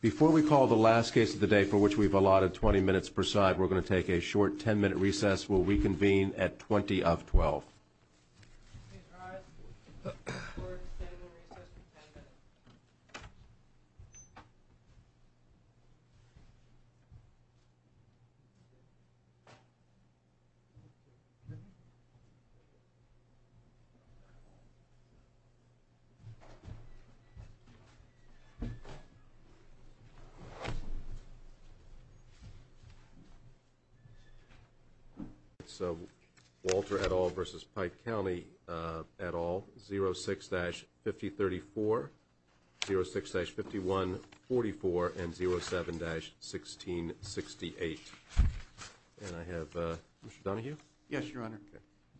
Before we call the last case of the day, for which we've allotted 20 minutes per side, we're going to take a short 10-minute recess. Will we convene at 20 of 12? Okay, so Walter et al. v. Pike County et al., 06-5034, 06-5144, and 07-1668. And I have Mr. Dunahue? Yes, Your Honor.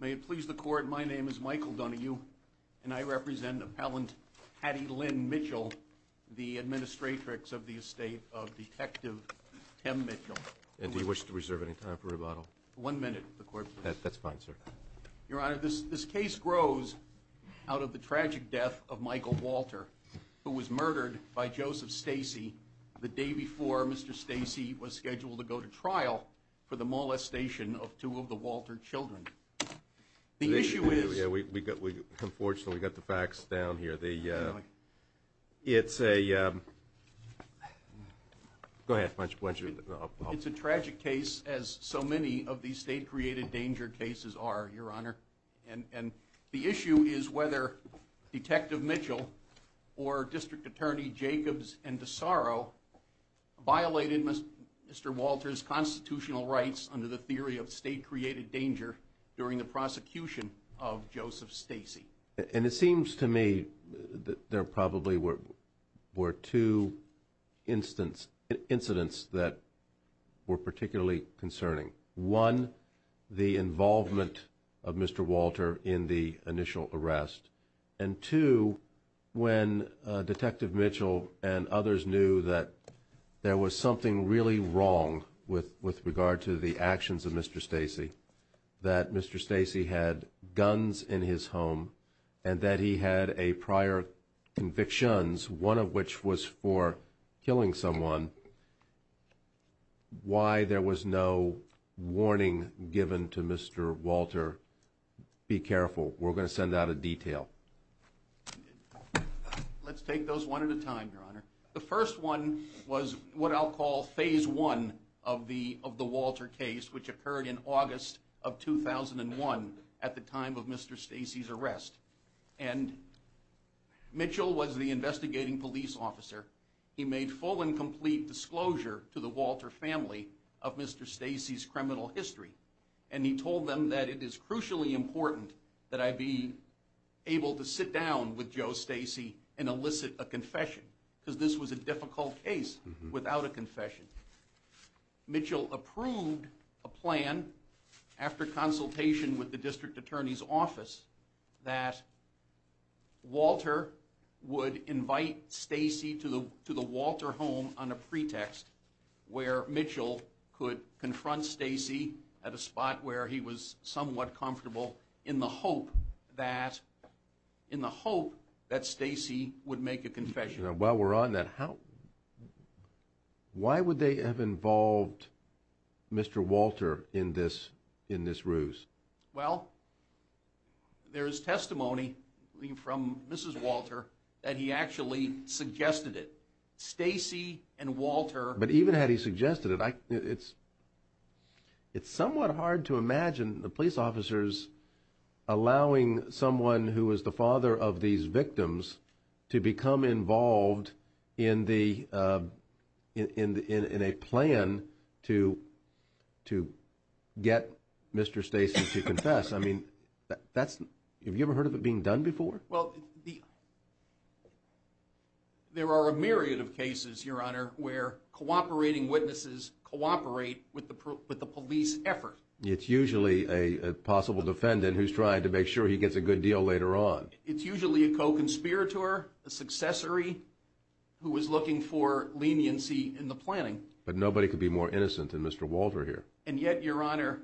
May it please the Court, my name is Michael Dunahue, and I represent Appellant Hattie Lynn Mitchell, the administratrix of the estate of Detective Tim Mitchell. And do you wish to reserve any time for rebuttal? One minute, if the Court pleases. That's fine, sir. Your Honor, this case grows out of the tragic death of Michael Walter, who was murdered by Joseph Stacy the day before Mr. Stacy was scheduled to go to trial for the molestation of two of the Walter children. The issue is... Unfortunately, we've got the facts down here. It's a... Go ahead. It's a tragic case, as so many of these state-created danger cases are, Your Honor. And the issue is whether Detective Mitchell or District Attorney Jacobs and DeSarro violated Mr. Walter's constitutional rights under the theory of state-created danger during the prosecution of Joseph Stacy. And it seems to me that there probably were two incidents that were particularly concerning. One, the involvement of Mr. Walter in the initial arrest. And two, when Detective Mitchell and others knew that there was something really wrong with regard to the actions of Mr. Stacy, that Mr. Stacy had guns in his home and that he had prior convictions, one of which was for killing someone, why there was no warning given to Mr. Walter, be careful, we're going to send out a detail. Let's take those one at a time, Your Honor. The first one was what I'll call phase one of the Walter case, which occurred in August of 2001 at the time of Mr. Stacy's arrest. And Mitchell was the investigating police officer. He made full and complete disclosure to the Walter family of Mr. Stacy's criminal history. And he told them that it is crucially important that I be able to sit down with Joe Stacy and elicit a confession because this was a difficult case without a confession. Mitchell approved a plan after consultation with the district attorney's office that Walter would invite Stacy to the Walter home on a pretext where Mitchell could confront Stacy at a spot where he was somewhat comfortable in the hope that Stacy would make a confession. While we're on that, why would they have involved Mr. Walter in this ruse? Well, there is testimony from Mrs. Walter that he actually suggested it. Stacy and Walter. But even had he suggested it, it's somewhat hard to imagine the police officers allowing someone who is the father of these victims to become involved in a plan to get Mr. Stacy to confess. I mean, have you ever heard of it being done before? Well, there are a myriad of cases, Your Honor, where cooperating witnesses cooperate with the police effort. It's usually a possible defendant who's trying to make sure he gets a good deal later on. It's usually a co-conspirator, a successory who is looking for leniency in the planning. But nobody could be more innocent than Mr. Walter here. And yet, Your Honor,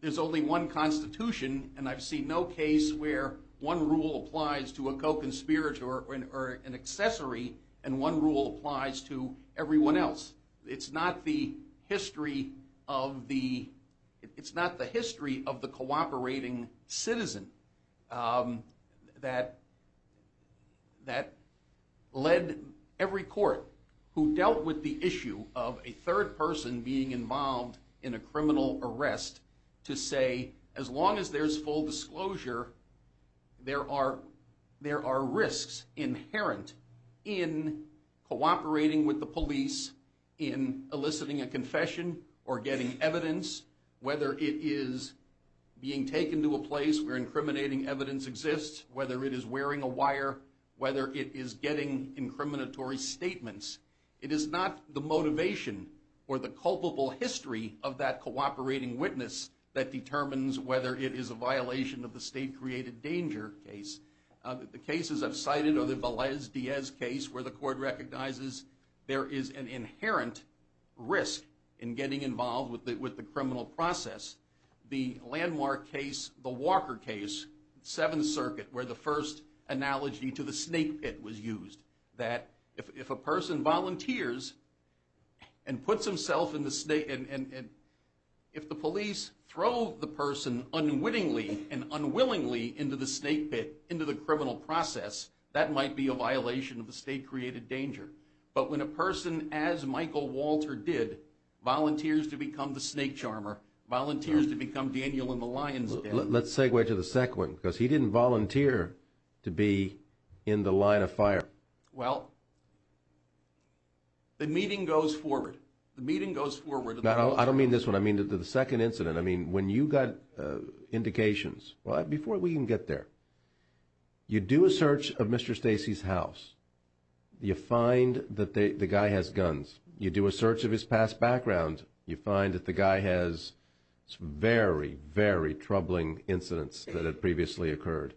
there's only one constitution, and I've seen no case where one rule applies to a co-conspirator or an accessory and one rule applies to everyone else. It's not the history of the cooperating citizen that led every court who dealt with the issue of a third person being involved in a criminal arrest to say, as long as there's full disclosure, there are risks inherent in cooperating with the police in eliciting a confession or getting evidence, whether it is being taken to a place where incriminating evidence exists, whether it is wearing a wire, whether it is getting incriminatory statements. It is not the motivation or the culpable history of that cooperating witness that determines whether it is a violation of the state-created danger case. The cases I've cited are the Velez-Diaz case, where the court recognizes there is an inherent risk in getting involved with the criminal process. The Landmark case, the Walker case, Seventh Circuit, where the first analogy to the snake pit was used, that if a person volunteers and puts himself in the snake pit, and if the police throw the person unwittingly and unwillingly into the snake pit, into the criminal process, that might be a violation of the state-created danger. But when a person, as Michael Walter did, volunteers to become the snake charmer, Let's segue to the second one, because he didn't volunteer to be in the line of fire. Well, the meeting goes forward. No, I don't mean this one. I mean the second incident. I mean when you got indications. Before we can get there, you do a search of Mr. Stacey's house. You find that the guy has guns. You do a search of his past background. You find that the guy has some very, very troubling incidents that had previously occurred.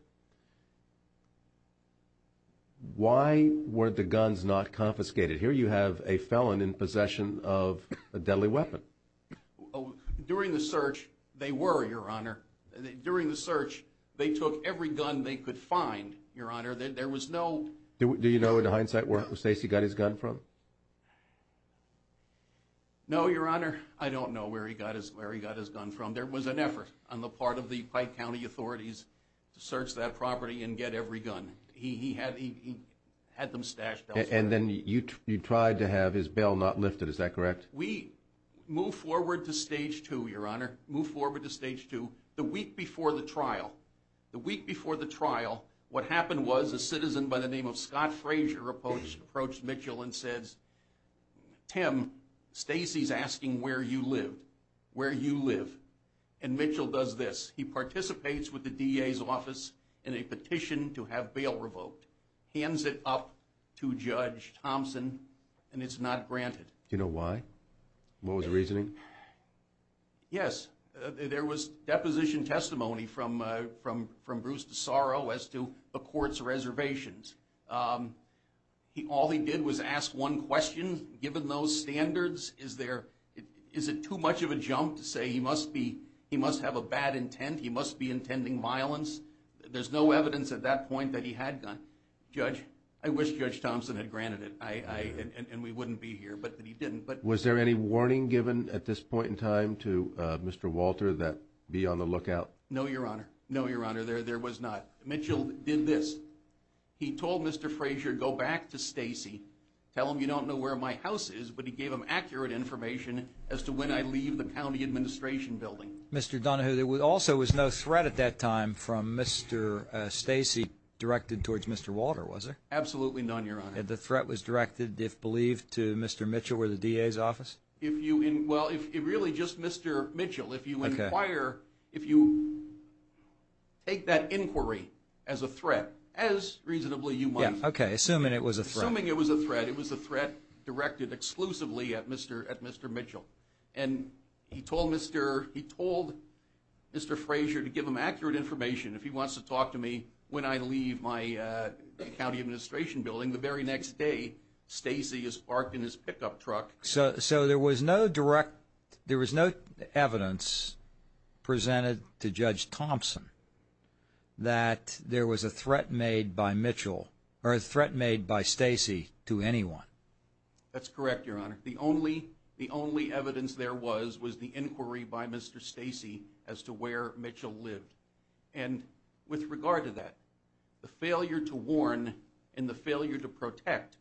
Why were the guns not confiscated? Here you have a felon in possession of a deadly weapon. During the search, they were, Your Honor. During the search, they took every gun they could find, Your Honor. There was no— Do you know in hindsight where Stacey got his gun from? No, Your Honor. I don't know where he got his gun from. There was an effort on the part of the Pike County authorities to search that property and get every gun. He had them stashed elsewhere. And then you tried to have his bail not lifted. Is that correct? We move forward to Stage 2, Your Honor. Move forward to Stage 2. The week before the trial, the week before the trial, what happened was a citizen by the name of Scott Frazier approached Mitchell and says, Tim, Stacey's asking where you live, where you live. And Mitchell does this. He participates with the DA's office in a petition to have bail revoked, hands it up to Judge Thompson, and it's not granted. Do you know why? What was the reasoning? Yes. There was deposition testimony from Bruce DeSauro as to the court's reservations. All he did was ask one question. Given those standards, is it too much of a jump to say he must have a bad intent, he must be intending violence? There's no evidence at that point that he had a gun. Judge, I wish Judge Thompson had granted it and we wouldn't be here, but he didn't. Was there any warning given at this point in time to Mr. Walter that be on the lookout? No, Your Honor. No, Your Honor, there was not. Mitchell did this. He told Mr. Frazier, go back to Stacey, tell him you don't know where my house is, but he gave him accurate information as to when I leave the county administration building. Mr. Donohue, there also was no threat at that time from Mr. Stacey directed towards Mr. Walter, was there? Absolutely none, Your Honor. The threat was directed, if believed, to Mr. Mitchell or the DA's office? Well, really just Mr. Mitchell. If you take that inquiry as a threat, as reasonably you might. Okay, assuming it was a threat. Assuming it was a threat, it was a threat directed exclusively at Mr. Mitchell. And he told Mr. Frazier to give him accurate information if he wants to talk to me when I leave my county administration building. The very next day, Stacey is parked in his pickup truck. So there was no direct, there was no evidence presented to Judge Thompson that there was a threat made by Mitchell or a threat made by Stacey to anyone? That's correct, Your Honor. The only evidence there was was the inquiry by Mr. Stacey as to where Mitchell lived. And with regard to that, the failure to warn and the failure to protect,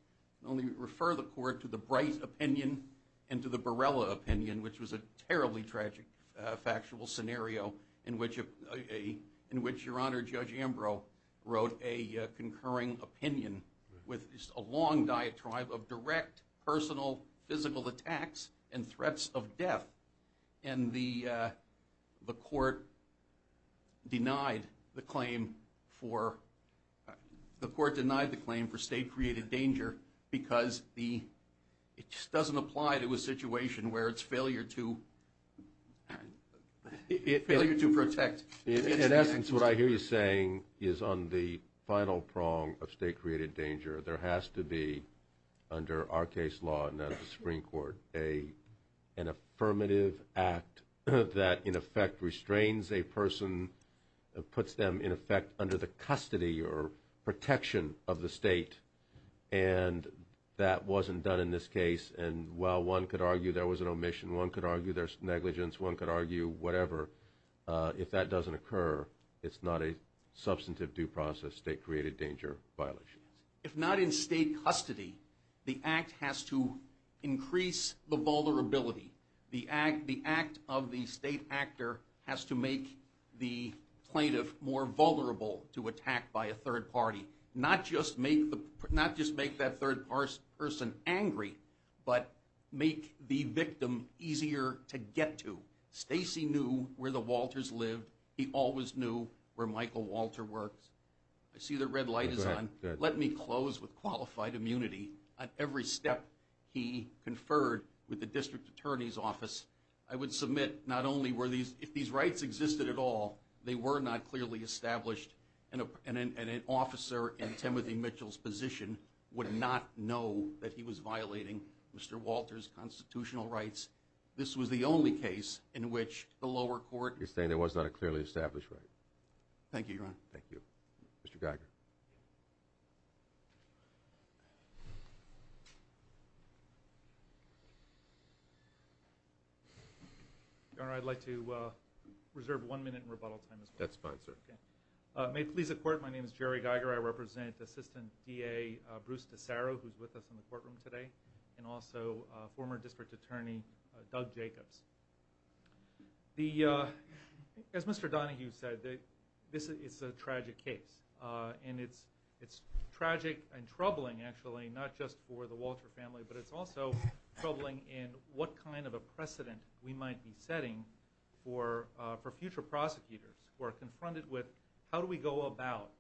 only refer the court to the Bright opinion and to the Barella opinion, which was a terribly tragic factual scenario in which Your Honor, Judge Ambrose wrote a concurring opinion with a long diatribe of direct, personal, physical attacks and threats of death. And the court denied the claim for state-created danger because it doesn't apply to a situation where it's failure to protect. In essence, what I hear you saying is on the final prong of state-created danger, there has to be, under our case law and that of the Supreme Court, an affirmative act that, in effect, restrains a person, puts them, in effect, under the custody or protection of the state. And that wasn't done in this case. And while one could argue there was an omission, one could argue there's negligence, one could argue whatever, if that doesn't occur, it's not a substantive due process state-created danger violation. If not in state custody, the act has to increase the vulnerability. The act of the state actor has to make the plaintiff more vulnerable to attack by a third party, not just make that third person angry, but make the victim easier to get to. Stacy knew where the Walters lived. He always knew where Michael Walter worked. I see the red light is on. Let me close with qualified immunity on every step he conferred with the district attorney's office. I would submit not only were these – if these rights existed at all, they were not clearly established, and an officer in Timothy Mitchell's position would not know that he was violating Mr. Walter's constitutional rights. This was the only case in which the lower court – You're saying there was not a clearly established right. Thank you, Your Honor. Thank you. Mr. Geiger. Your Honor, I'd like to reserve one minute in rebuttal time as well. That's fine, sir. May it please the Court, my name is Jerry Geiger. I represent Assistant DA Bruce DeSaro, who's with us in the courtroom today, and also former District Attorney Doug Jacobs. The – as Mr. Donohue said, this is a tragic case, and it's tragic and troubling, actually, not just for the Walter family, but it's also troubling in what kind of a precedent we might be setting for future prosecutors who are confronted with how do we go about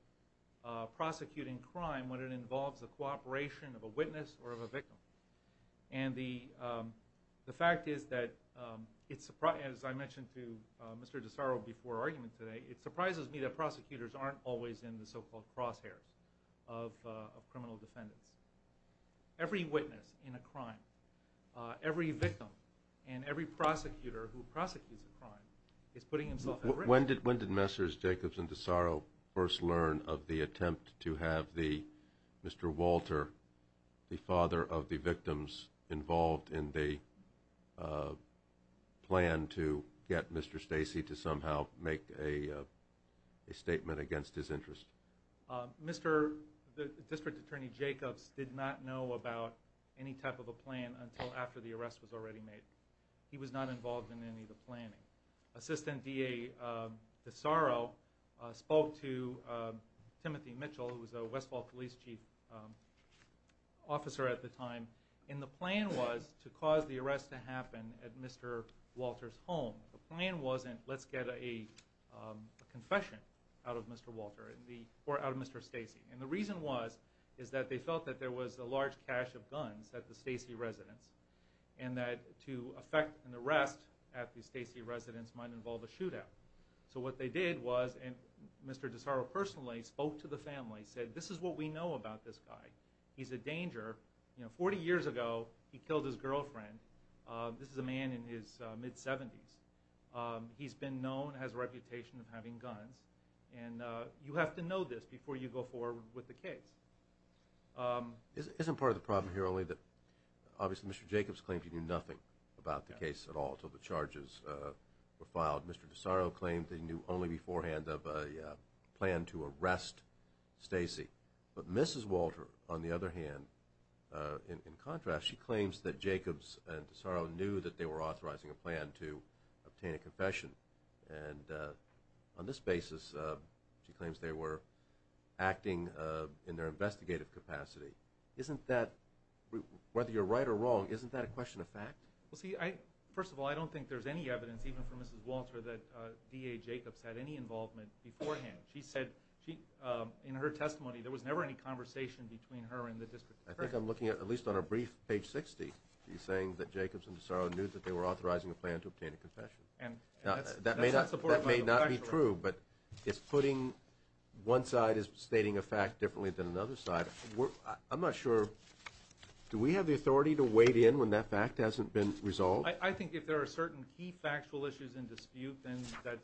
prosecuting crime when it involves the cooperation of a witness or of a victim. And the fact is that it's – as I mentioned to Mr. DeSaro before our argument today, it surprises me that prosecutors aren't always in the so-called crosshairs of criminal defendants. Every witness in a crime, every victim, and every prosecutor who prosecutes a crime is putting himself at risk. When did Messrs. Jacobs and DeSaro first learn of the attempt to have the – the victims involved in the plan to get Mr. Stacey to somehow make a statement against his interest? Mr. – the District Attorney Jacobs did not know about any type of a plan until after the arrest was already made. He was not involved in any of the planning. Assistant DA DeSaro spoke to Timothy Mitchell, who was a Westfall police chief officer at the time, and the plan was to cause the arrest to happen at Mr. Walter's home. The plan wasn't let's get a confession out of Mr. Walter or out of Mr. Stacey. And the reason was is that they felt that there was a large cache of guns at the Stacey residence and that to effect an arrest at the Stacey residence might involve a shootout. So what they did was, and Mr. DeSaro personally spoke to the family, said this is what we know about this guy. He's a danger. You know, 40 years ago he killed his girlfriend. This is a man in his mid-70s. He's been known, has a reputation of having guns. And you have to know this before you go forward with the case. Isn't part of the problem here only that obviously Mr. Jacobs claims he knew nothing about the case at all until the charges were filed. Mr. DeSaro claimed he knew only beforehand of a plan to arrest Stacey. But Mrs. Walter, on the other hand, in contrast, she claims that Jacobs and DeSaro knew that they were authorizing a plan to obtain a confession. And on this basis she claims they were acting in their investigative capacity. Isn't that, whether you're right or wrong, isn't that a question of fact? Well, see, first of all, I don't think there's any evidence, even for Mrs. Walter, that D.A. Jacobs had any involvement beforehand. She said in her testimony there was never any conversation between her and the district attorney. I think I'm looking at least on our brief, page 60, she's saying that Jacobs and DeSaro knew that they were authorizing a plan to obtain a confession. That may not be true, but it's putting one side is stating a fact differently than another side. I'm not sure, do we have the authority to wade in when that fact hasn't been resolved? I think if there are certain key factual issues in dispute, then that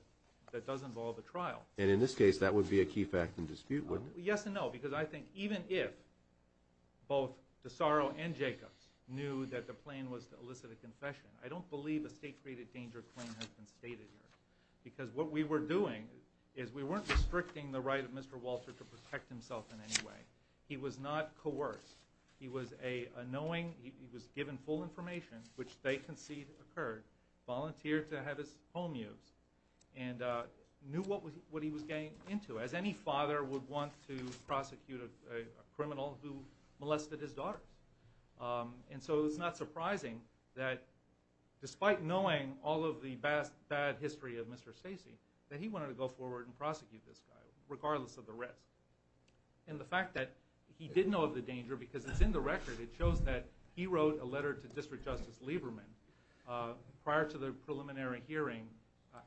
does involve a trial. And in this case that would be a key fact in dispute, wouldn't it? Yes and no, because I think even if both DeSaro and Jacobs knew that the plan was to elicit a confession, I don't believe a state-created danger claim has been stated here. Because what we were doing is we weren't restricting the right of Mr. Walter to protect himself in any way. He was not coerced. He was a knowing, he was given full information, which they concede occurred, volunteered to have his home used, and knew what he was getting into, as any father would want to prosecute a criminal who molested his daughter. And so it's not surprising that despite knowing all of the bad history of Mr. Stacey, that he wanted to go forward and prosecute this guy, regardless of the rest. And the fact that he did know of the danger, because it's in the record, it shows that he wrote a letter to District Justice Lieberman prior to the preliminary hearing,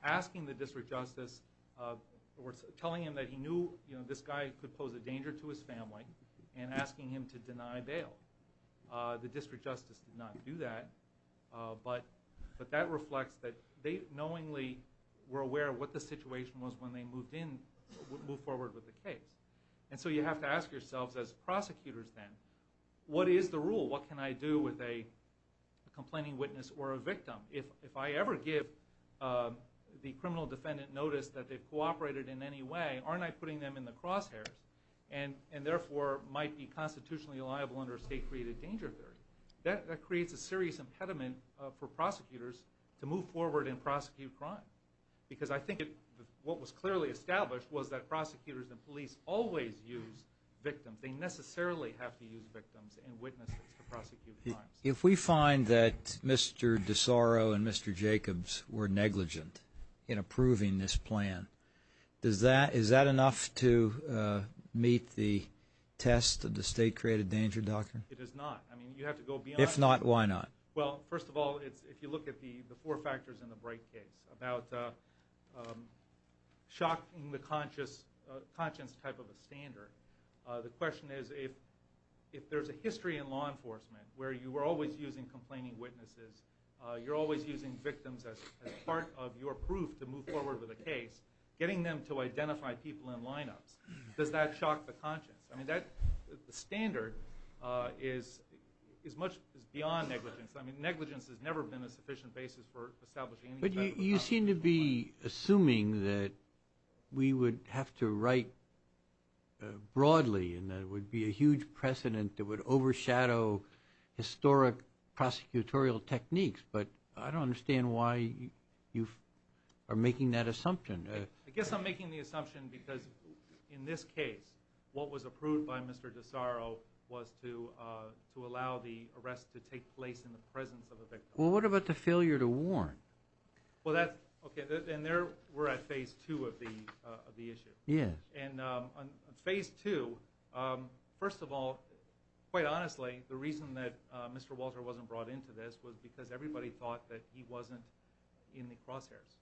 asking the District Justice, or telling him that he knew this guy could pose a danger to his family, and asking him to deny bail. The District Justice did not do that. But that reflects that they knowingly were aware of what the situation was when they moved in, moved forward with the case. And so you have to ask yourselves as prosecutors then, what is the rule? What can I do with a complaining witness or a victim? If I ever give the criminal defendant notice that they've cooperated in any way, aren't I putting them in the crosshairs? And, therefore, might be constitutionally liable under a state-created danger theory. That creates a serious impediment for prosecutors to move forward and prosecute crime. Because I think what was clearly established was that prosecutors and police always use victims. They necessarily have to use victims and witnesses to prosecute crimes. If we find that Mr. DeSorro and Mr. Jacobs were negligent in approving this plan, is that enough to meet the test of the state-created danger, Doctor? It is not. I mean, you have to go beyond that. If not, why not? Well, first of all, if you look at the four factors in the Bright case, about shocking the conscience type of a standard, the question is if there's a history in law enforcement where you were always using complaining witnesses, you're always using victims as part of your proof to move forward with a case, getting them to identify people in lineups, does that shock the conscience? I mean, the standard is much beyond negligence. I mean, negligence has never been a sufficient basis for establishing any type of conscience. But you seem to be assuming that we would have to write broadly and there would be a huge precedent that would overshadow historic prosecutorial techniques. But I don't understand why you are making that assumption. I guess I'm making the assumption because in this case, what was approved by Mr. DeSorro was to allow the arrest to take place in the presence of a victim. Well, what about the failure to warn? Well, that's okay. And we're at phase two of the issue. Yeah. And on phase two, first of all, quite honestly, the reason that Mr. Walter wasn't brought into this was because everybody thought that he wasn't in the crosshairs.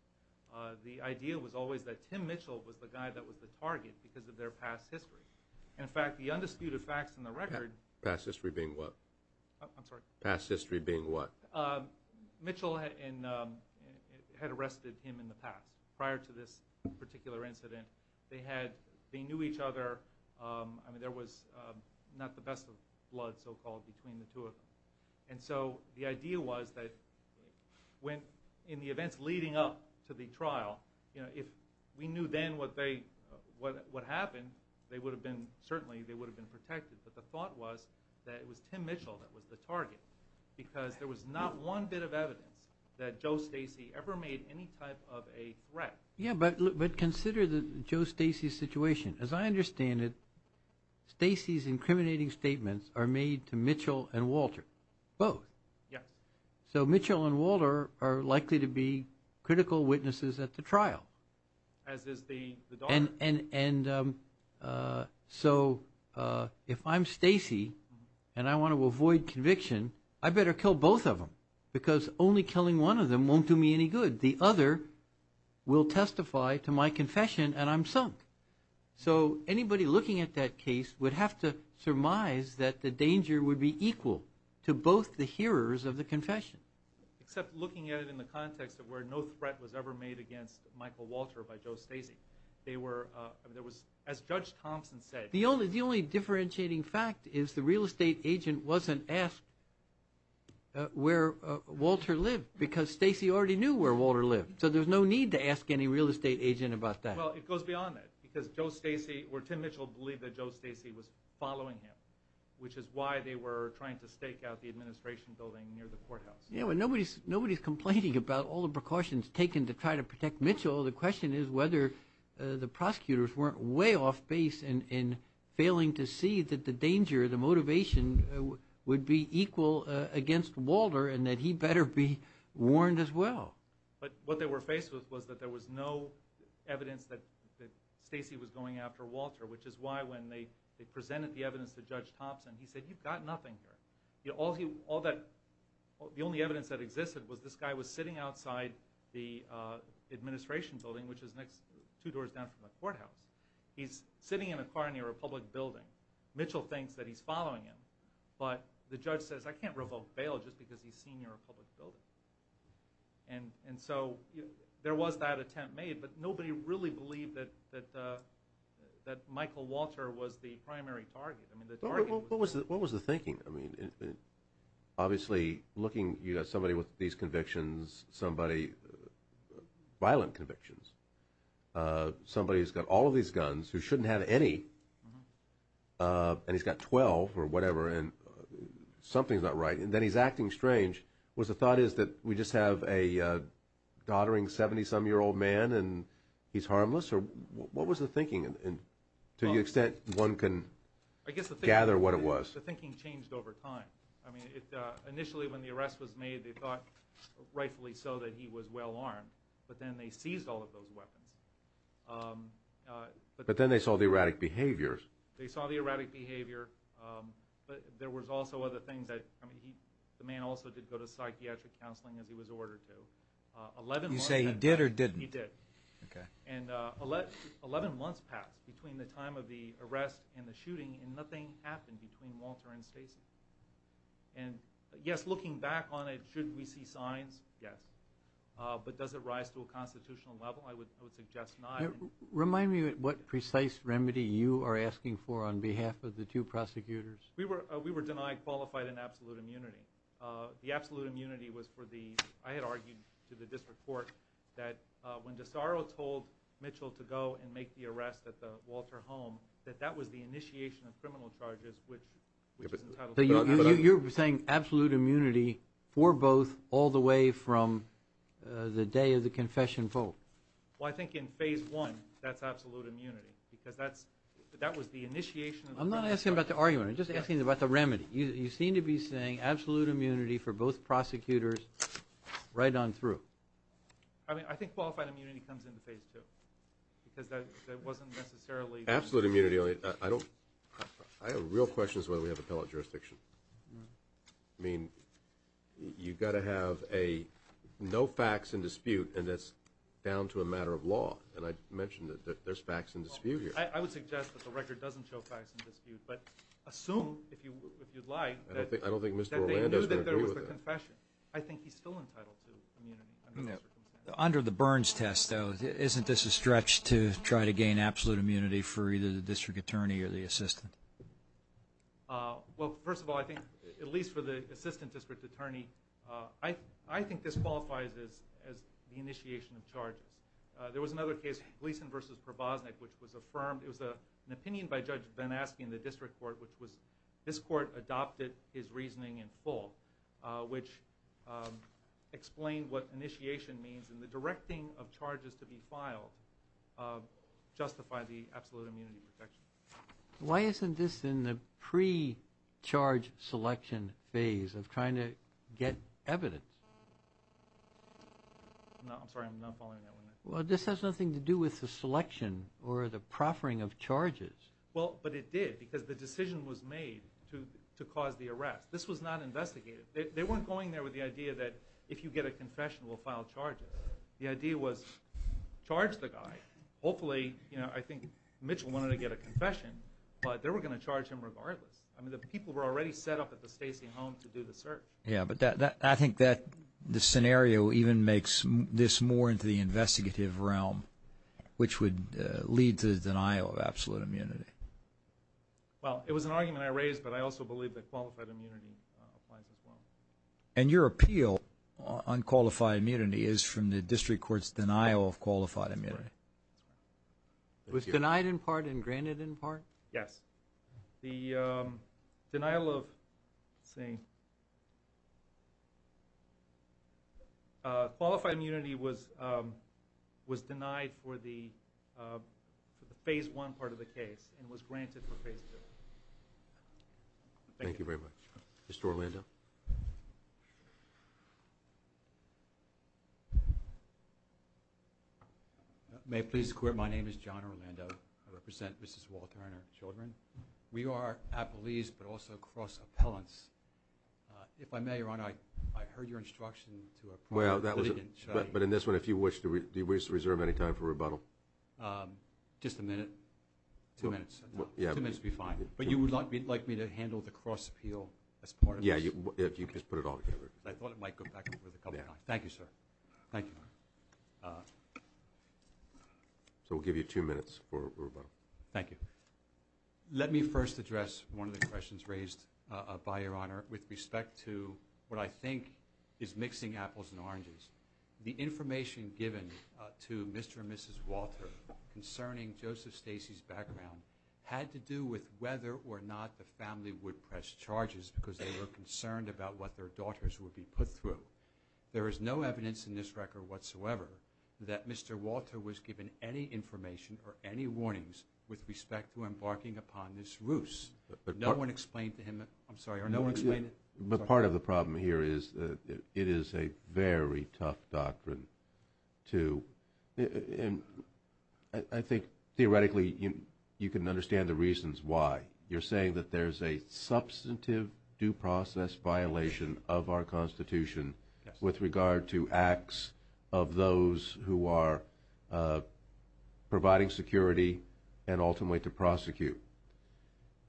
The idea was always that Tim Mitchell was the guy that was the target because of their past history. In fact, the undisputed facts in the record – Past history being what? I'm sorry? Past history being what? Mitchell had arrested him in the past, prior to this particular incident. They knew each other. I mean, there was not the best of blood, so-called, between the two of them. And so the idea was that in the events leading up to the trial, if we knew then what happened, certainly they would have been protected. But the thought was that it was Tim Mitchell that was the target because there was not one bit of evidence that Joe Stacey ever made any type of a threat. Yeah, but consider Joe Stacey's situation. As I understand it, Stacey's incriminating statements are made to Mitchell and Walter, both. Yes. So Mitchell and Walter are likely to be critical witnesses at the trial. As is the doctor. And so if I'm Stacey and I want to avoid conviction, I better kill both of them because only killing one of them won't do me any good. The other will testify to my confession and I'm sunk. So anybody looking at that case would have to surmise that the danger would be equal to both the hearers of the confession. Except looking at it in the context of where no threat was ever made against Michael Walter by Joe Stacey. As Judge Thompson said- The only differentiating fact is the real estate agent wasn't asked where Walter lived because Stacey already knew where Walter lived. So there's no need to ask any real estate agent about that. Well, it goes beyond that because Tim Mitchell believed that Joe Stacey was following him, which is why they were trying to stake out the administration building near the courthouse. Yeah, but nobody's complaining about all the precautions taken to try to protect Mitchell. The question is whether the prosecutors weren't way off base in failing to see that the danger, the motivation would be equal against Walter and that he better be warned as well. But what they were faced with was that there was no evidence that Stacey was going after Walter, which is why when they presented the evidence to Judge Thompson, he said, you've got nothing here. The only evidence that existed was this guy was sitting outside the administration building, which is two doors down from the courthouse. He's sitting in a car near a public building. Mitchell thinks that he's following him, but the judge says I can't revoke bail just because he's seen your public building. And so there was that attempt made, but nobody really believed that Michael Walter was the primary target. What was the thinking? Obviously, looking at somebody with these convictions, violent convictions, somebody who's got all of these guns who shouldn't have any, and he's got 12 or whatever, and something's not right, and then he's acting strange. Was the thought is that we just have a doddering 70-some-year-old man and he's harmless? Or what was the thinking to the extent one can gather what it was? I guess the thinking changed over time. I mean, initially when the arrest was made, they thought rightfully so that he was well-armed, but then they seized all of those weapons. But then they saw the erratic behaviors. They saw the erratic behavior, but there was also other things. I mean, the man also did go to psychiatric counseling as he was ordered to. You say he did or didn't? He did. And 11 months passed between the time of the arrest and the shooting, and nothing happened between Walter and Stacy. And, yes, looking back on it, should we see signs? Yes. But does it rise to a constitutional level? I would suggest not. Remind me what precise remedy you are asking for on behalf of the two prosecutors. We were denied qualified and absolute immunity. The absolute immunity was for the, I had argued to the district court, that when DeSaro told Mitchell to go and make the arrest at the Walter home, that that was the initiation of criminal charges, which is entitled to the argument. So you're saying absolute immunity for both all the way from the day of the confession vote? Well, I think in phase one that's absolute immunity because that was the initiation. I'm not asking about the argument. I'm just asking about the remedy. You seem to be saying absolute immunity for both prosecutors right on through. I mean, I think qualified immunity comes into phase two because that wasn't necessarily. Absolute immunity, I have real questions whether we have appellate jurisdiction. I mean, you've got to have no facts in dispute, and that's down to a matter of law. And I mentioned that there's facts in dispute here. I would suggest that the record doesn't show facts in dispute. But assume, if you'd like, that they knew that there was a confession. I don't think Mr. Orlando is going to agree with that. I think he's still entitled to immunity. Under the Burns test, though, isn't this a stretch to try to gain absolute immunity for either the district attorney or the assistant? Well, first of all, I think, at least for the assistant district attorney, I think this qualifies as the initiation of charges. There was another case, Gleason v. ProBosnick, which was affirmed. It was an opinion by Judge Van Aske in the district court, which was this court adopted his reasoning in full, which explained what initiation means, and the directing of charges to be filed justify the absolute immunity protection. Why isn't this in the pre-charge selection phase of trying to get evidence? No, I'm sorry. I'm not following that one. Well, this has nothing to do with the selection or the proffering of charges. Well, but it did, because the decision was made to cause the arrest. This was not investigated. They weren't going there with the idea that if you get a confession, we'll file charges. The idea was charge the guy. Hopefully, you know, I think Mitchell wanted to get a confession, but they were going to charge him regardless. I mean, the people were already set up at the Stacy home to do the search. Yeah, but I think that the scenario even makes this more into the investigative realm, which would lead to the denial of absolute immunity. Well, it was an argument I raised, but I also believe that qualified immunity applies as well. And your appeal on qualified immunity is from the district court's denial of qualified immunity. It was denied in part and granted in part? Yes. The denial of, let's see, qualified immunity was denied for the phase one part of the case and was granted for phase two. Thank you very much. Mr. Orlando. May it please the court, my name is John Orlando. I represent Mrs. Walter and her children. We are appellees, but also cross appellants. If I may, Your Honor, I heard your instruction to apply. But in this one, do you wish to reserve any time for rebuttal? Just a minute, two minutes. Two minutes would be fine. But you would like me to handle the cross appeal as part of this? Yeah, if you could put it all together. I thought it might go back over the couple of times. Thank you, sir. Thank you. Thank you, Your Honor. So we'll give you two minutes for rebuttal. Thank you. Let me first address one of the questions raised by Your Honor with respect to what I think is mixing apples and oranges. The information given to Mr. and Mrs. Walter concerning Joseph Stacey's background had to do with whether or not the family would press charges because they were concerned about what their daughters would be put through. There is no evidence in this record whatsoever that Mr. Walter was given any information or any warnings with respect to embarking upon this ruse. No one explained to him, I'm sorry, no one explained it? But part of the problem here is that it is a very tough doctrine to, and I think theoretically you can understand the reasons why. You're saying that there's a substantive due process violation of our Constitution with regard to acts of those who are providing security and ultimately to prosecute.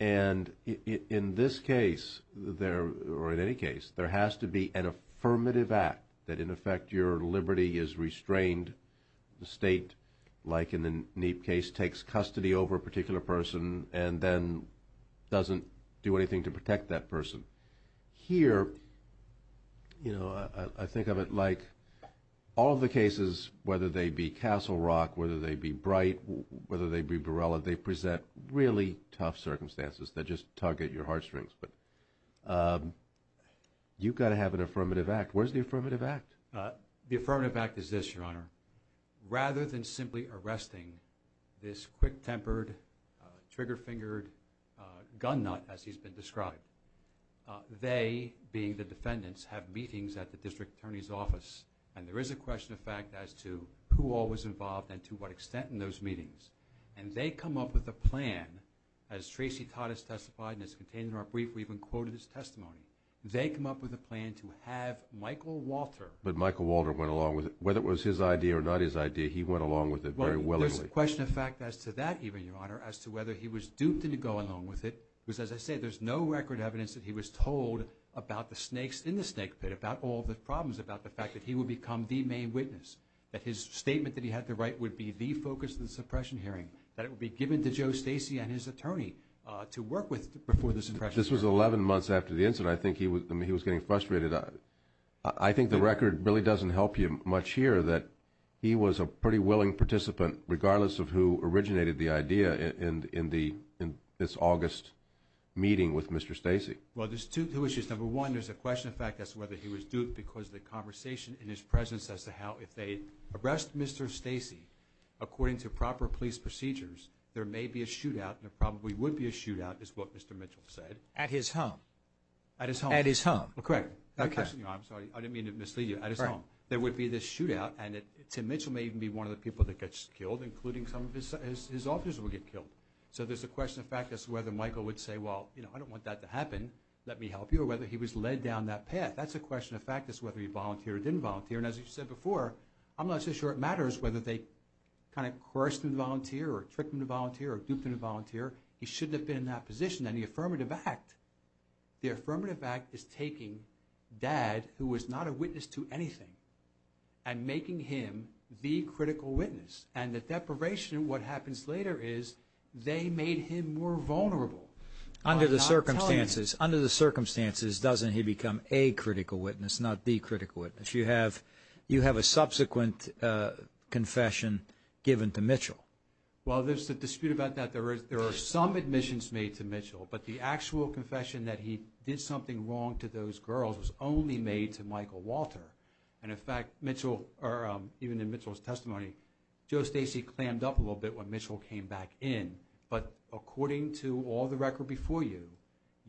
And in this case, or in any case, there has to be an affirmative act that, in effect, your liberty is restrained. The State, like in the Neep case, takes custody over a particular person and then doesn't do anything to protect that person. Here, you know, I think of it like all of the cases, whether they be Castle Rock, whether they be Bright, whether they be Borrella, they present really tough circumstances that just tug at your heartstrings. But you've got to have an affirmative act. Where's the affirmative act? The affirmative act is this, Your Honor. Rather than simply arresting this quick-tempered, trigger-fingered gun nut, as he's been described, they, being the defendants, have meetings at the district attorney's office, and there is a question of fact as to who all was involved and to what extent in those meetings. And they come up with a plan, as Tracy Todd has testified and is contained in our brief, we've even quoted his testimony. They come up with a plan to have Michael Walter. But Michael Walter went along with it. Whether it was his idea or not his idea, he went along with it very willingly. Well, there's a question of fact as to that even, Your Honor, as to whether he was duped into going along with it. Because, as I say, there's no record evidence that he was told about the snakes in the snake pit, about all the problems, about the fact that he would become the main witness, that his statement that he had to write would be the focus of the suppression hearing, that it would be given to Joe Stacey and his attorney to work with before the suppression hearing. This was 11 months after the incident. I think he was getting frustrated. I think the record really doesn't help you much here that he was a pretty willing participant, regardless of who originated the idea in this August meeting with Mr. Stacey. Well, there's two issues. Number one, there's a question of fact as to whether he was duped because of the conversation in his presence as to how if they arrest Mr. Stacey, according to proper police procedures, there may be a shootout and there probably would be a shootout is what Mr. Mitchell said. At his home. At his home. At his home. Correct. I'm sorry. I didn't mean to mislead you. At his home. There would be this shootout, and Tim Mitchell may even be one of the people that gets killed, including some of his officers will get killed. So there's a question of fact as to whether Michael would say, well, I don't want that to happen, let me help you, or whether he was led down that path. That's a question of fact as to whether he volunteered or didn't volunteer. And as you said before, I'm not so sure it matters whether they kind of coerced him to volunteer or tricked him to volunteer or duped him to volunteer. He shouldn't have been in that position. And the affirmative act is taking Dad, who was not a witness to anything, and making him the critical witness. And the deprivation of what happens later is they made him more vulnerable. Under the circumstances, doesn't he become a critical witness, not the critical witness? You have a subsequent confession given to Mitchell. Well, there's a dispute about that. There are some admissions made to Mitchell, but the actual confession that he did something wrong to those girls was only made to Michael Walter. And, in fact, even in Mitchell's testimony, Joe Stacey clammed up a little bit when Mitchell came back in.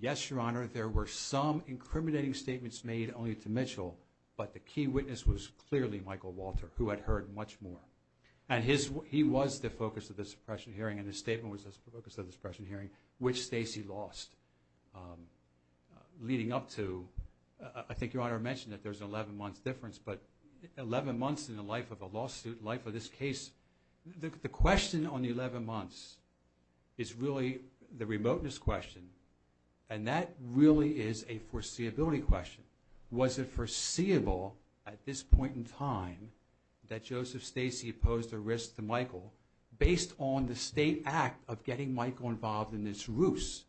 There were some incriminating statements made only to Mitchell, but the key witness was clearly Michael Walter, who had heard much more. And he was the focus of the suppression hearing, and his statement was the focus of the suppression hearing, which Stacey lost, leading up to, I think Your Honor mentioned that there's an 11-month difference, but 11 months in the life of a lawsuit, life of this case, the question on the 11 months is really the remoteness question. And that really is a foreseeability question. Was it foreseeable at this point in time that Joseph Stacey posed a risk to Michael based on the state act of getting Michael involved in this ruse?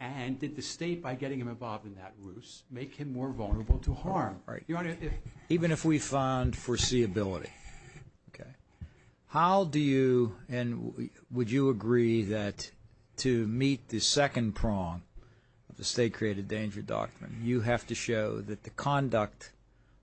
And did the state, by getting him involved in that ruse, make him more vulnerable to harm? Even if we found foreseeability. Okay. How do you and would you agree that to meet the second prong of the State Created Danger Doctrine, you have to show that the conduct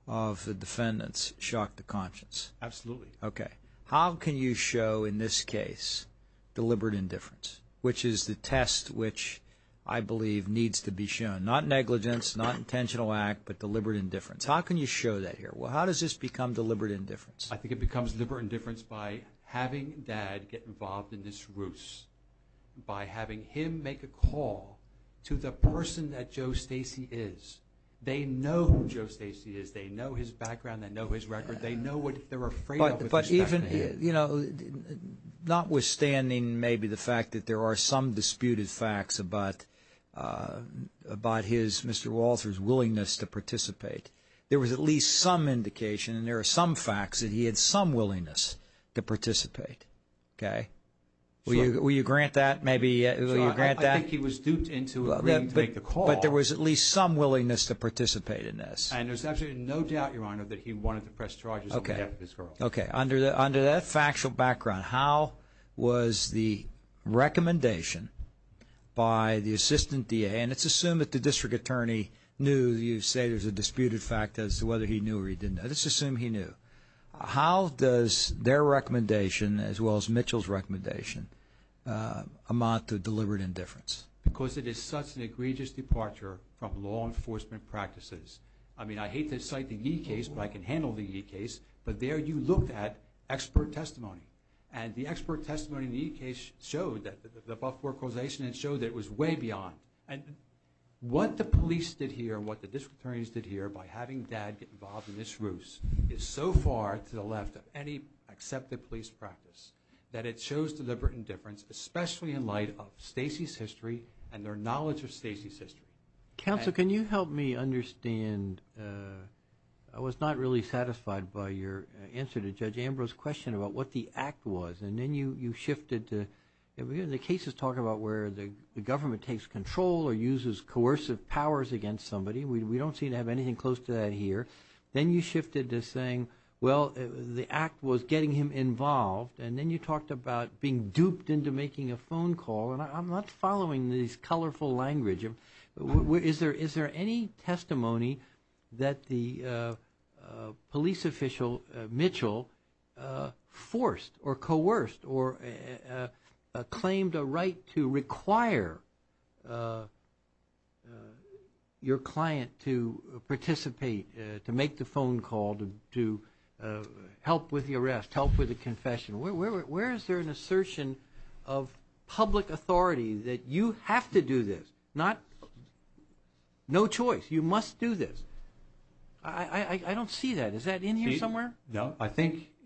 of the defendants shocked the conscience? Absolutely. Okay. How can you show in this case deliberate indifference, which is the test which I believe needs to be shown? Not negligence, not intentional act, but deliberate indifference. How can you show that here? Well, how does this become deliberate indifference? I think it becomes deliberate indifference by having Dad get involved in this ruse, by having him make a call to the person that Joe Stacey is. They know who Joe Stacey is. They know his background. They know his record. They know what they're afraid of with respect to him. But even, you know, notwithstanding maybe the fact that there are some disputed facts about his, Mr. Walter's, willingness to participate, there was at least some indication and there are some facts that he had some willingness to participate. Okay? Will you grant that? Maybe will you grant that? I think he was duped into agreeing to make the call. But there was at least some willingness to participate in this. And there's absolutely no doubt, Your Honor, that he wanted to press charges on behalf of his girl. Okay. Under that factual background, how was the recommendation by the Assistant DA, and let's assume that the district attorney knew you say there's a disputed fact as to whether he knew or he didn't know. Let's assume he knew. How does their recommendation, as well as Mitchell's recommendation, amount to deliberate indifference? Because it is such an egregious departure from law enforcement practices. I mean, I hate to cite the E case, but I can handle the E case. But there you looked at expert testimony. And the expert testimony in the E case showed that the Buford causation had showed that it was way beyond. And what the police did here and what the district attorneys did here by having Dad get involved in this ruse is so far to the left of any accepted police practice that it shows deliberate indifference, especially in light of Stacy's history and their knowledge of Stacy's history. Counsel, can you help me understand? I was not really satisfied by your answer to Judge Ambrose's question about what the act was. And then you shifted to the cases talk about where the government takes control or uses coercive powers against somebody. We don't seem to have anything close to that here. Then you shifted to saying, well, the act was getting him involved. And then you talked about being duped into making a phone call. And I'm not following these colorful language. Is there any testimony that the police official, Mitchell, forced or coerced or claimed a right to require your client to participate, to make the phone call, to help with the arrest, help with the confession? Where is there an assertion of public authority that you have to do this? No choice. You must do this. I don't see that. Is that in here somewhere? No.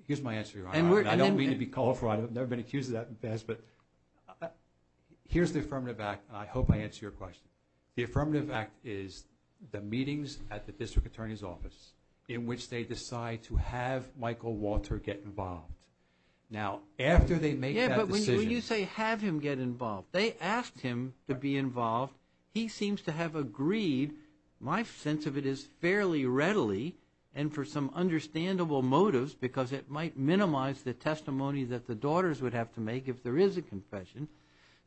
Here's my answer. I don't mean to be colorful. I've never been accused of that in the past. But here's the affirmative act, and I hope I answer your question. The affirmative act is the meetings at the district attorney's office in which they decide to have Michael Walter get involved. Now, after they make that decision. Yeah, but when you say have him get involved, they asked him to be involved. He seems to have agreed. My sense of it is fairly readily and for some understandable motives because it might minimize the testimony that the daughters would have to make if there is a confession.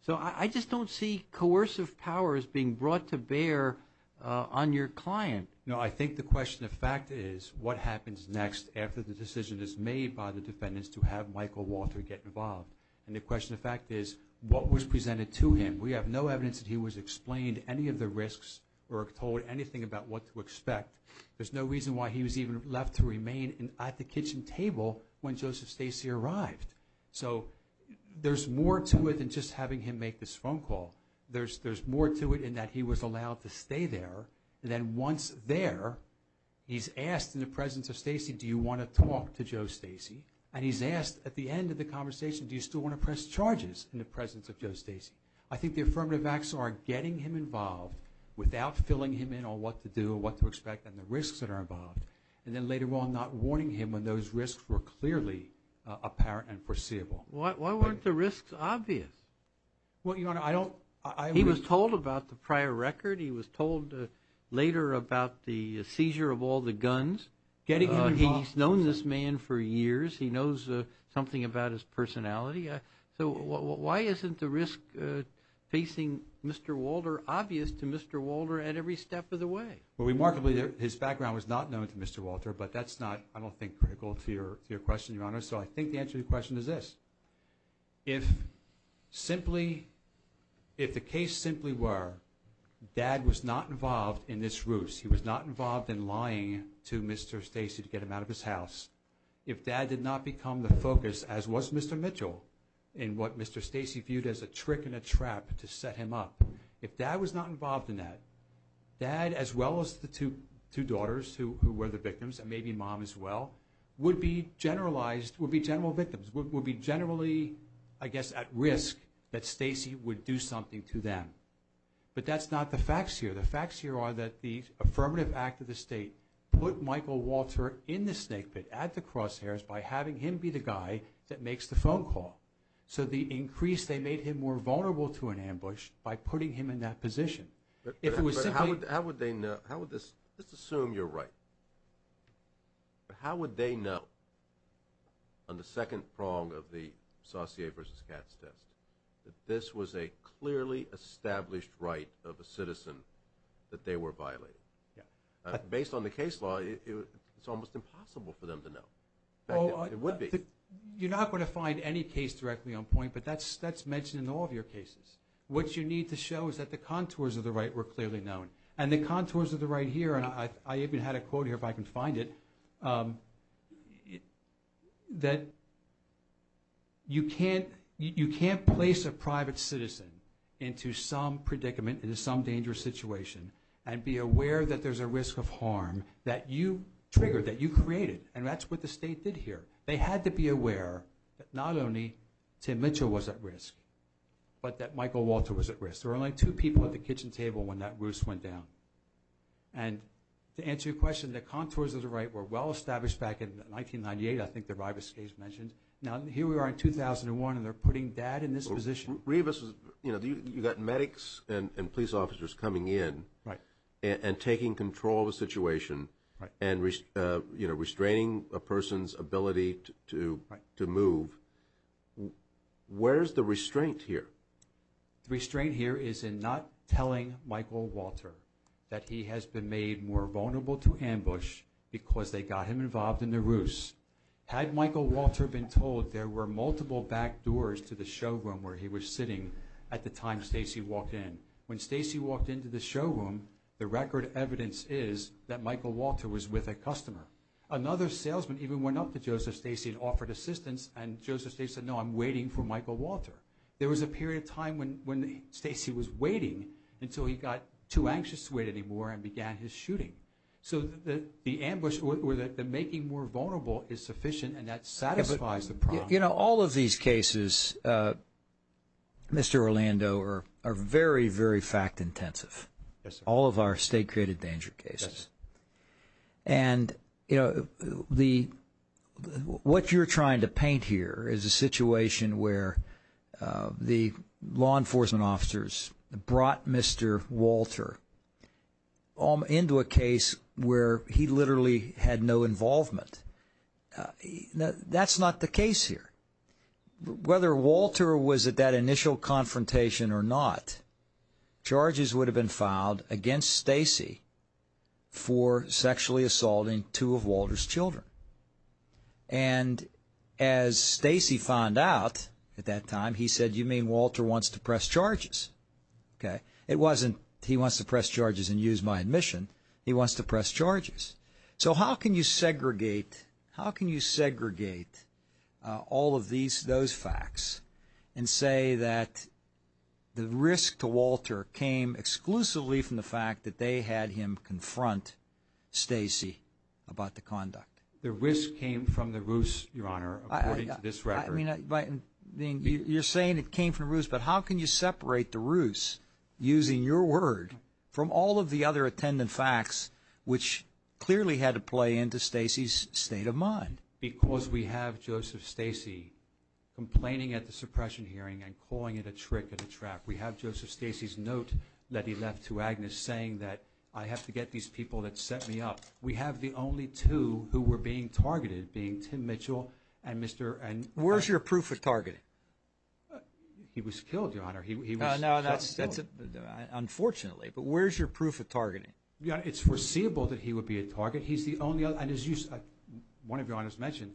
So I just don't see coercive powers being brought to bear on your client. No, I think the question of fact is what happens next after the decision is made by the defendants to have Michael Walter get involved. And the question of fact is what was presented to him. We have no evidence that he was explained any of the risks or told anything about what to expect. There's no reason why he was even left to remain at the kitchen table when Joseph Stacy arrived. So there's more to it than just having him make this phone call. There's more to it in that he was allowed to stay there. And then once there, he's asked in the presence of Stacy, do you want to talk to Joe Stacy? And he's asked at the end of the conversation, do you still want to press charges in the presence of Joe Stacy? I think the affirmative acts are getting him involved without filling him in on what to do or what to expect and the risks that are involved. And then later on not warning him when those risks were clearly apparent and foreseeable. Why weren't the risks obvious? Well, Your Honor, I don't. He was told about the prior record. He was told later about the seizure of all the guns. He's known this man for years. He knows something about his personality. So why isn't the risk facing Mr. Walter obvious to Mr. Walter at every step of the way? Well, remarkably, his background was not known to Mr. Walter, but that's not, I don't think, critical to your question, Your Honor. So I think the answer to your question is this. If simply, if the case simply were dad was not involved in this ruse, he was not involved in lying to Mr. Stacy to get him out of his house, if dad did not become the focus, as was Mr. Mitchell, in what Mr. Stacy viewed as a trick and a trap to set him up, if dad was not involved in that, dad, as well as the two daughters who were the victims, and maybe mom as well, would be generalized, would be general victims, would be generally, I guess, at risk that Stacy would do something to them. But that's not the facts here. The facts here are that the affirmative act of the State put Michael Walter in the snake pit at the crosshairs by having him be the guy that makes the phone call. So the increase, they made him more vulnerable to an ambush by putting him in that position. But how would they know? Let's assume you're right. How would they know, on the second prong of the Saucier v. Katz test, that this was a clearly established right of a citizen that they were violating? Based on the case law, it's almost impossible for them to know. In fact, it would be. You're not going to find any case directly on point, but that's mentioned in all of your cases. What you need to show is that the contours of the right were clearly known. And the contours of the right here, and I even had a quote here if I can find it, that you can't place a private citizen into some predicament, into some dangerous situation, and be aware that there's a risk of harm that you triggered, that you created. And that's what the State did here. They had to be aware that not only Tim Mitchell was at risk, but that Michael Walter was at risk. There were only two people at the kitchen table when that ruse went down. And to answer your question, the contours of the right were well established back in 1998, I think the Rivas case mentioned. Now, here we are in 2001, and they're putting dad in this position. Rivas, you've got medics and police officers coming in and taking control of the situation and restraining a person's ability to move. Where's the restraint here? The restraint here is in not telling Michael Walter that he has been made more vulnerable to ambush because they got him involved in the ruse. Had Michael Walter been told there were multiple back doors to the showroom where he was sitting at the time Stacy walked in? When Stacy walked into the showroom, the record evidence is that Michael Walter was with a customer. Another salesman even went up to Joseph Stacy and offered assistance, and Joseph Stacy said, no, I'm waiting for Michael Walter. There was a period of time when Stacy was waiting until he got too anxious to wait anymore and began his shooting. So the ambush or the making more vulnerable is sufficient, and that satisfies the problem. You know, all of these cases, Mr. Orlando, are very, very fact-intensive, all of our state-created danger cases. And, you know, what you're trying to paint here is a situation where the law enforcement officers brought Mr. Walter into a case where he literally had no involvement. That's not the case here. Whether Walter was at that initial confrontation or not, charges would have been filed against Stacy for sexually assaulting two of Walter's children. And as Stacy found out at that time, he said, you mean Walter wants to press charges? Okay. It wasn't he wants to press charges and use my admission. He wants to press charges. So how can you segregate all of those facts and say that the risk to Walter came exclusively from the fact that they had him confront Stacy about the conduct? The risk came from the ruse, Your Honor, according to this record. I mean, you're saying it came from the ruse, but how can you separate the ruse using your word from all of the other attendant facts, which clearly had to play into Stacy's state of mind? Because we have Joseph Stacy complaining at the suppression hearing and calling it a trick and a trap. We have Joseph Stacy's note that he left to Agnes saying that I have to get these people that set me up. We have the only two who were being targeted being Tim Mitchell and Mr. Where's your proof of targeting? He was killed, Your Honor. He was killed. Unfortunately. But where's your proof of targeting? It's foreseeable that he would be a target. And as one of Your Honors mentioned,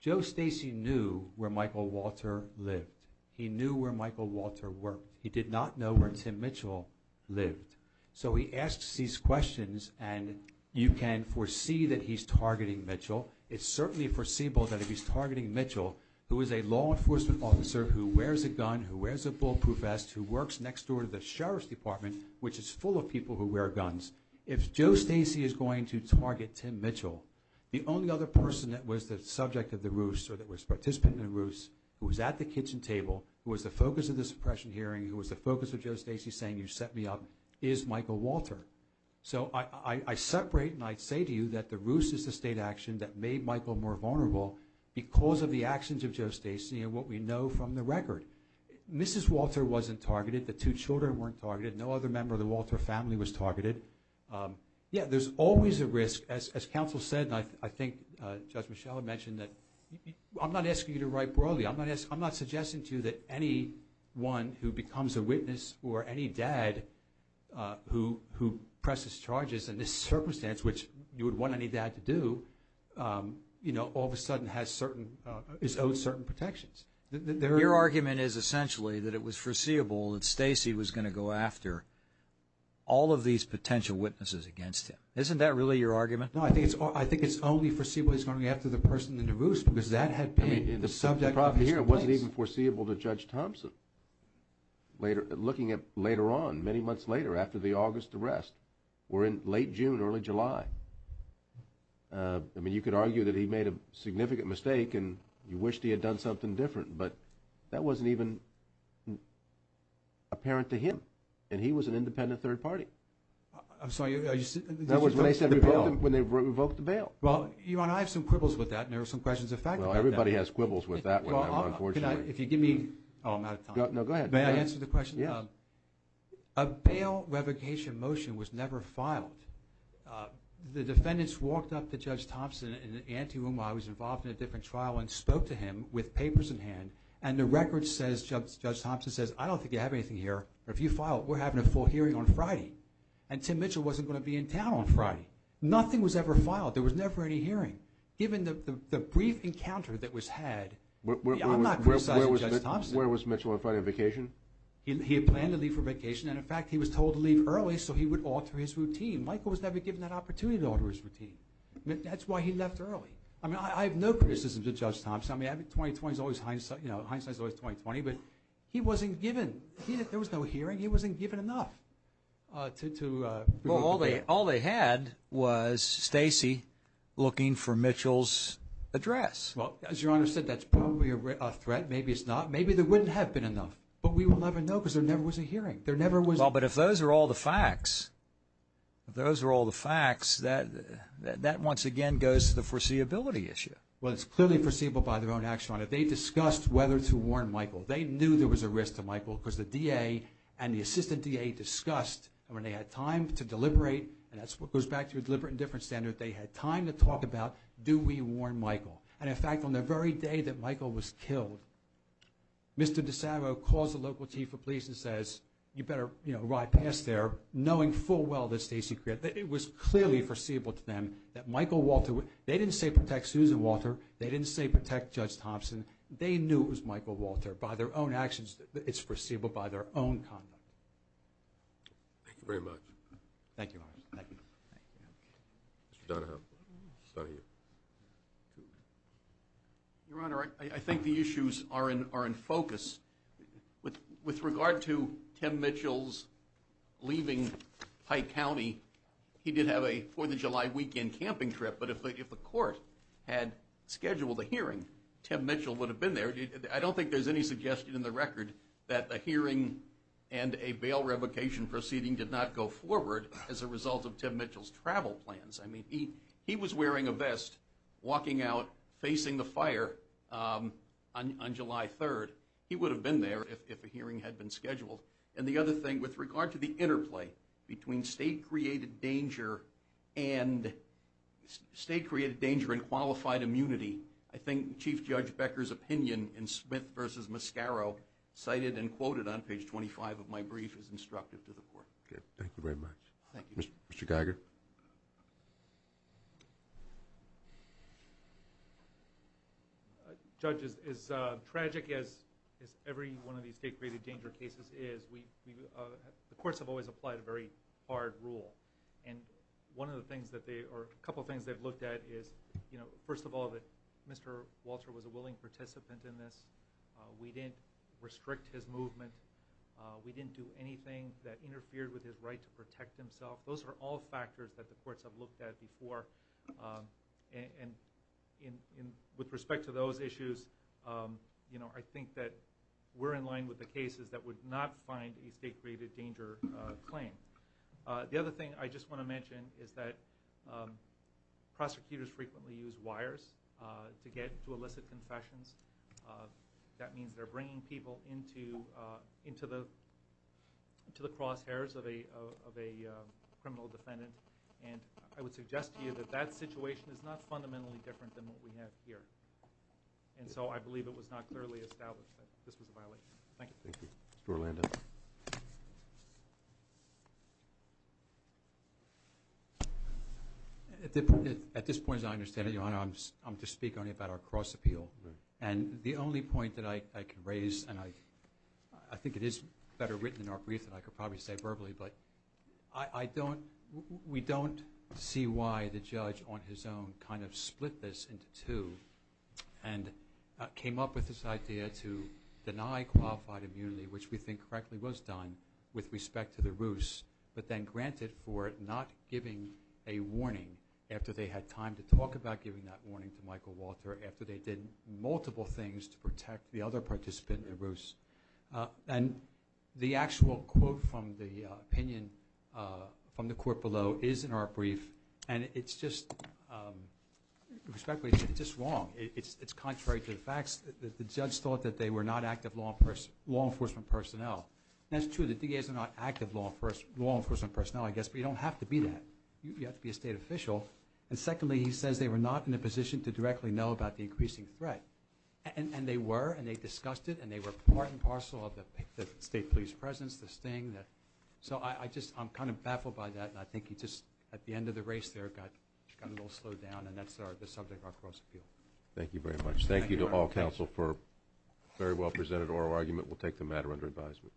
Joe Stacy knew where Michael Walter lived. He knew where Michael Walter worked. He did not know where Tim Mitchell lived. So he asks these questions, and you can foresee that he's targeting Mitchell. It's certainly foreseeable that if he's targeting Mitchell, who is a law enforcement officer who wears a gun, who wears a bulletproof vest, who works next door to the sheriff's department, which is full of people who wear guns, if Joe Stacy is going to target Tim Mitchell, the only other person that was the subject of the ruse or that was a participant in the ruse, who was at the kitchen table, who was the focus of the suppression hearing, who was the focus of Joe Stacy saying, You set me up, is Michael Walter. So I separate and I say to you that the ruse is the state action that made Michael more vulnerable because of the actions of Joe Stacy and what we know from the record. Mrs. Walter wasn't targeted. The two children weren't targeted. No other member of the Walter family was targeted. Yeah, there's always a risk. As counsel said, and I think Judge Michelle had mentioned, I'm not asking you to write broadly. I'm not suggesting to you that anyone who becomes a witness or any dad who presses charges in this circumstance, which you would want any dad to do, all of a sudden is owed certain protections. Your argument is essentially that it was foreseeable that Stacy was going to go after all of these potential witnesses against him. Isn't that really your argument? No, I think it's only foreseeable he's going to go after the person in the ruse because that had been the subject of his complaints. The problem here wasn't even foreseeable to Judge Thompson. Looking at later on, many months later, after the August arrest, we're in late June, early July. I mean, you could argue that he made a significant mistake and you wished he had done something different, but that wasn't even apparent to him, and he was an independent third party. I'm sorry. That was when they revoked the bail. Well, Your Honor, I have some quibbles with that, and there are some questions of fact about that. Well, everybody has quibbles with that, unfortunately. If you give me – oh, I'm out of time. No, go ahead. May I answer the question? Yeah. A bail revocation motion was never filed. The defendants walked up to Judge Thompson in the ante room while he was involved in a different trial and spoke to him with papers in hand, and the record says – Judge Thompson says, I don't think you have anything here, but if you file it, we're having a full hearing on Friday. And Tim Mitchell wasn't going to be in town on Friday. Nothing was ever filed. There was never any hearing. Given the brief encounter that was had, I'm not criticizing Judge Thompson. Where was Mitchell on Friday on vacation? He had planned to leave for vacation, and, in fact, he was told to leave early so he would alter his routine. Michael was never given that opportunity to alter his routine. That's why he left early. I mean, I have no criticism to Judge Thompson. I mean, 2020 is always hindsight – you know, hindsight is always 2020. But he wasn't given – there was no hearing. He wasn't given enough to – Well, all they had was Stacy looking for Mitchell's address. Well, as Your Honor said, that's probably a threat. Maybe it's not. Maybe there wouldn't have been enough. But we will never know because there never was a hearing. There never was a – Well, but if those are all the facts, if those are all the facts, that once again goes to the foreseeability issue. Well, it's clearly foreseeable by their own action, Your Honor. They discussed whether to warn Michael. They knew there was a risk to Michael because the DA and the assistant DA discussed, and when they had time to deliberate, and that's what goes back to a deliberate indifference standard, they had time to talk about do we warn Michael. And, in fact, on the very day that Michael was killed, Mr. DeSavio calls the local chief of police and says, you better ride past there knowing full well that Stacy – it was clearly foreseeable to them that Michael Walter – they didn't say protect Susan Walter. They didn't say protect Judge Thompson. They knew it was Michael Walter. By their own actions, it's foreseeable by their own conduct. Thank you very much. Thank you, Your Honor. Thank you. Mr. Donahoe. Your Honor, I think the issues are in focus. With regard to Tim Mitchell's leaving Pike County, he did have a Fourth of July weekend camping trip, but if the court had scheduled a hearing, Tim Mitchell would have been there. I don't think there's any suggestion in the record that the hearing and a bail revocation proceeding did not go forward as a result of Tim Mitchell's travel plans. I mean, he was wearing a vest, walking out, facing the fire on July 3rd. He would have been there if a hearing had been scheduled. And the other thing, with regard to the interplay between state-created danger and qualified immunity, I think Chief Judge Becker's opinion in Smith v. Mascaro, cited and quoted on page 25 of my brief, is instructive to the court. Okay. Thank you very much. Thank you. Mr. Geiger. Judge, as tragic as every one of these state-created danger cases is, the courts have always applied a very hard rule. And one of the things that they... or a couple of things they've looked at is, first of all, that Mr. Walter was a willing participant in this. We didn't restrict his movement. We didn't do anything that interfered with his right to protect himself. Those are all factors that the courts have looked at before. And with respect to those issues, I think that we're in line with the cases that would not find a state-created danger claim. The other thing I just want to mention is that prosecutors frequently use wires to get to illicit confessions. That means they're bringing people into the crosshairs of a criminal defendant. And I would suggest to you that that situation is not fundamentally different than what we have here. And so I believe it was not clearly established that this was a violation. Thank you. Thank you. Mr. Orlando. At this point, as I understand it, Your Honor, I'm to speak only about our cross-appeal. And the only point that I can raise, and I think it is better written in our brief than I could probably say verbally, but we don't see why the judge on his own kind of split this into two and came up with this idea to deny qualified immunity, which we think correctly was done with respect to the Roos, but then granted for not giving a warning after they had time to talk about giving that warning to Michael Walter, after they did multiple things to protect the other participant, the Roos. And the actual quote from the opinion from the court below is in our brief, and it's just wrong. It's contrary to the facts. The judge thought that they were not active law enforcement personnel. That's true. The DAs are not active law enforcement personnel, I guess, but you don't have to be that. You have to be a state official. And secondly, he says they were not in a position to directly know about the increasing threat. And they were, and they discussed it, and they were part and parcel of the state police presence, this thing. So I'm kind of baffled by that, and I think he just at the end of the race there got a little slowed down, and that's the subject of our cross-appeal. Thank you very much. Thank you to all counsel for a very well-presented oral argument. We'll take the matter under advisement.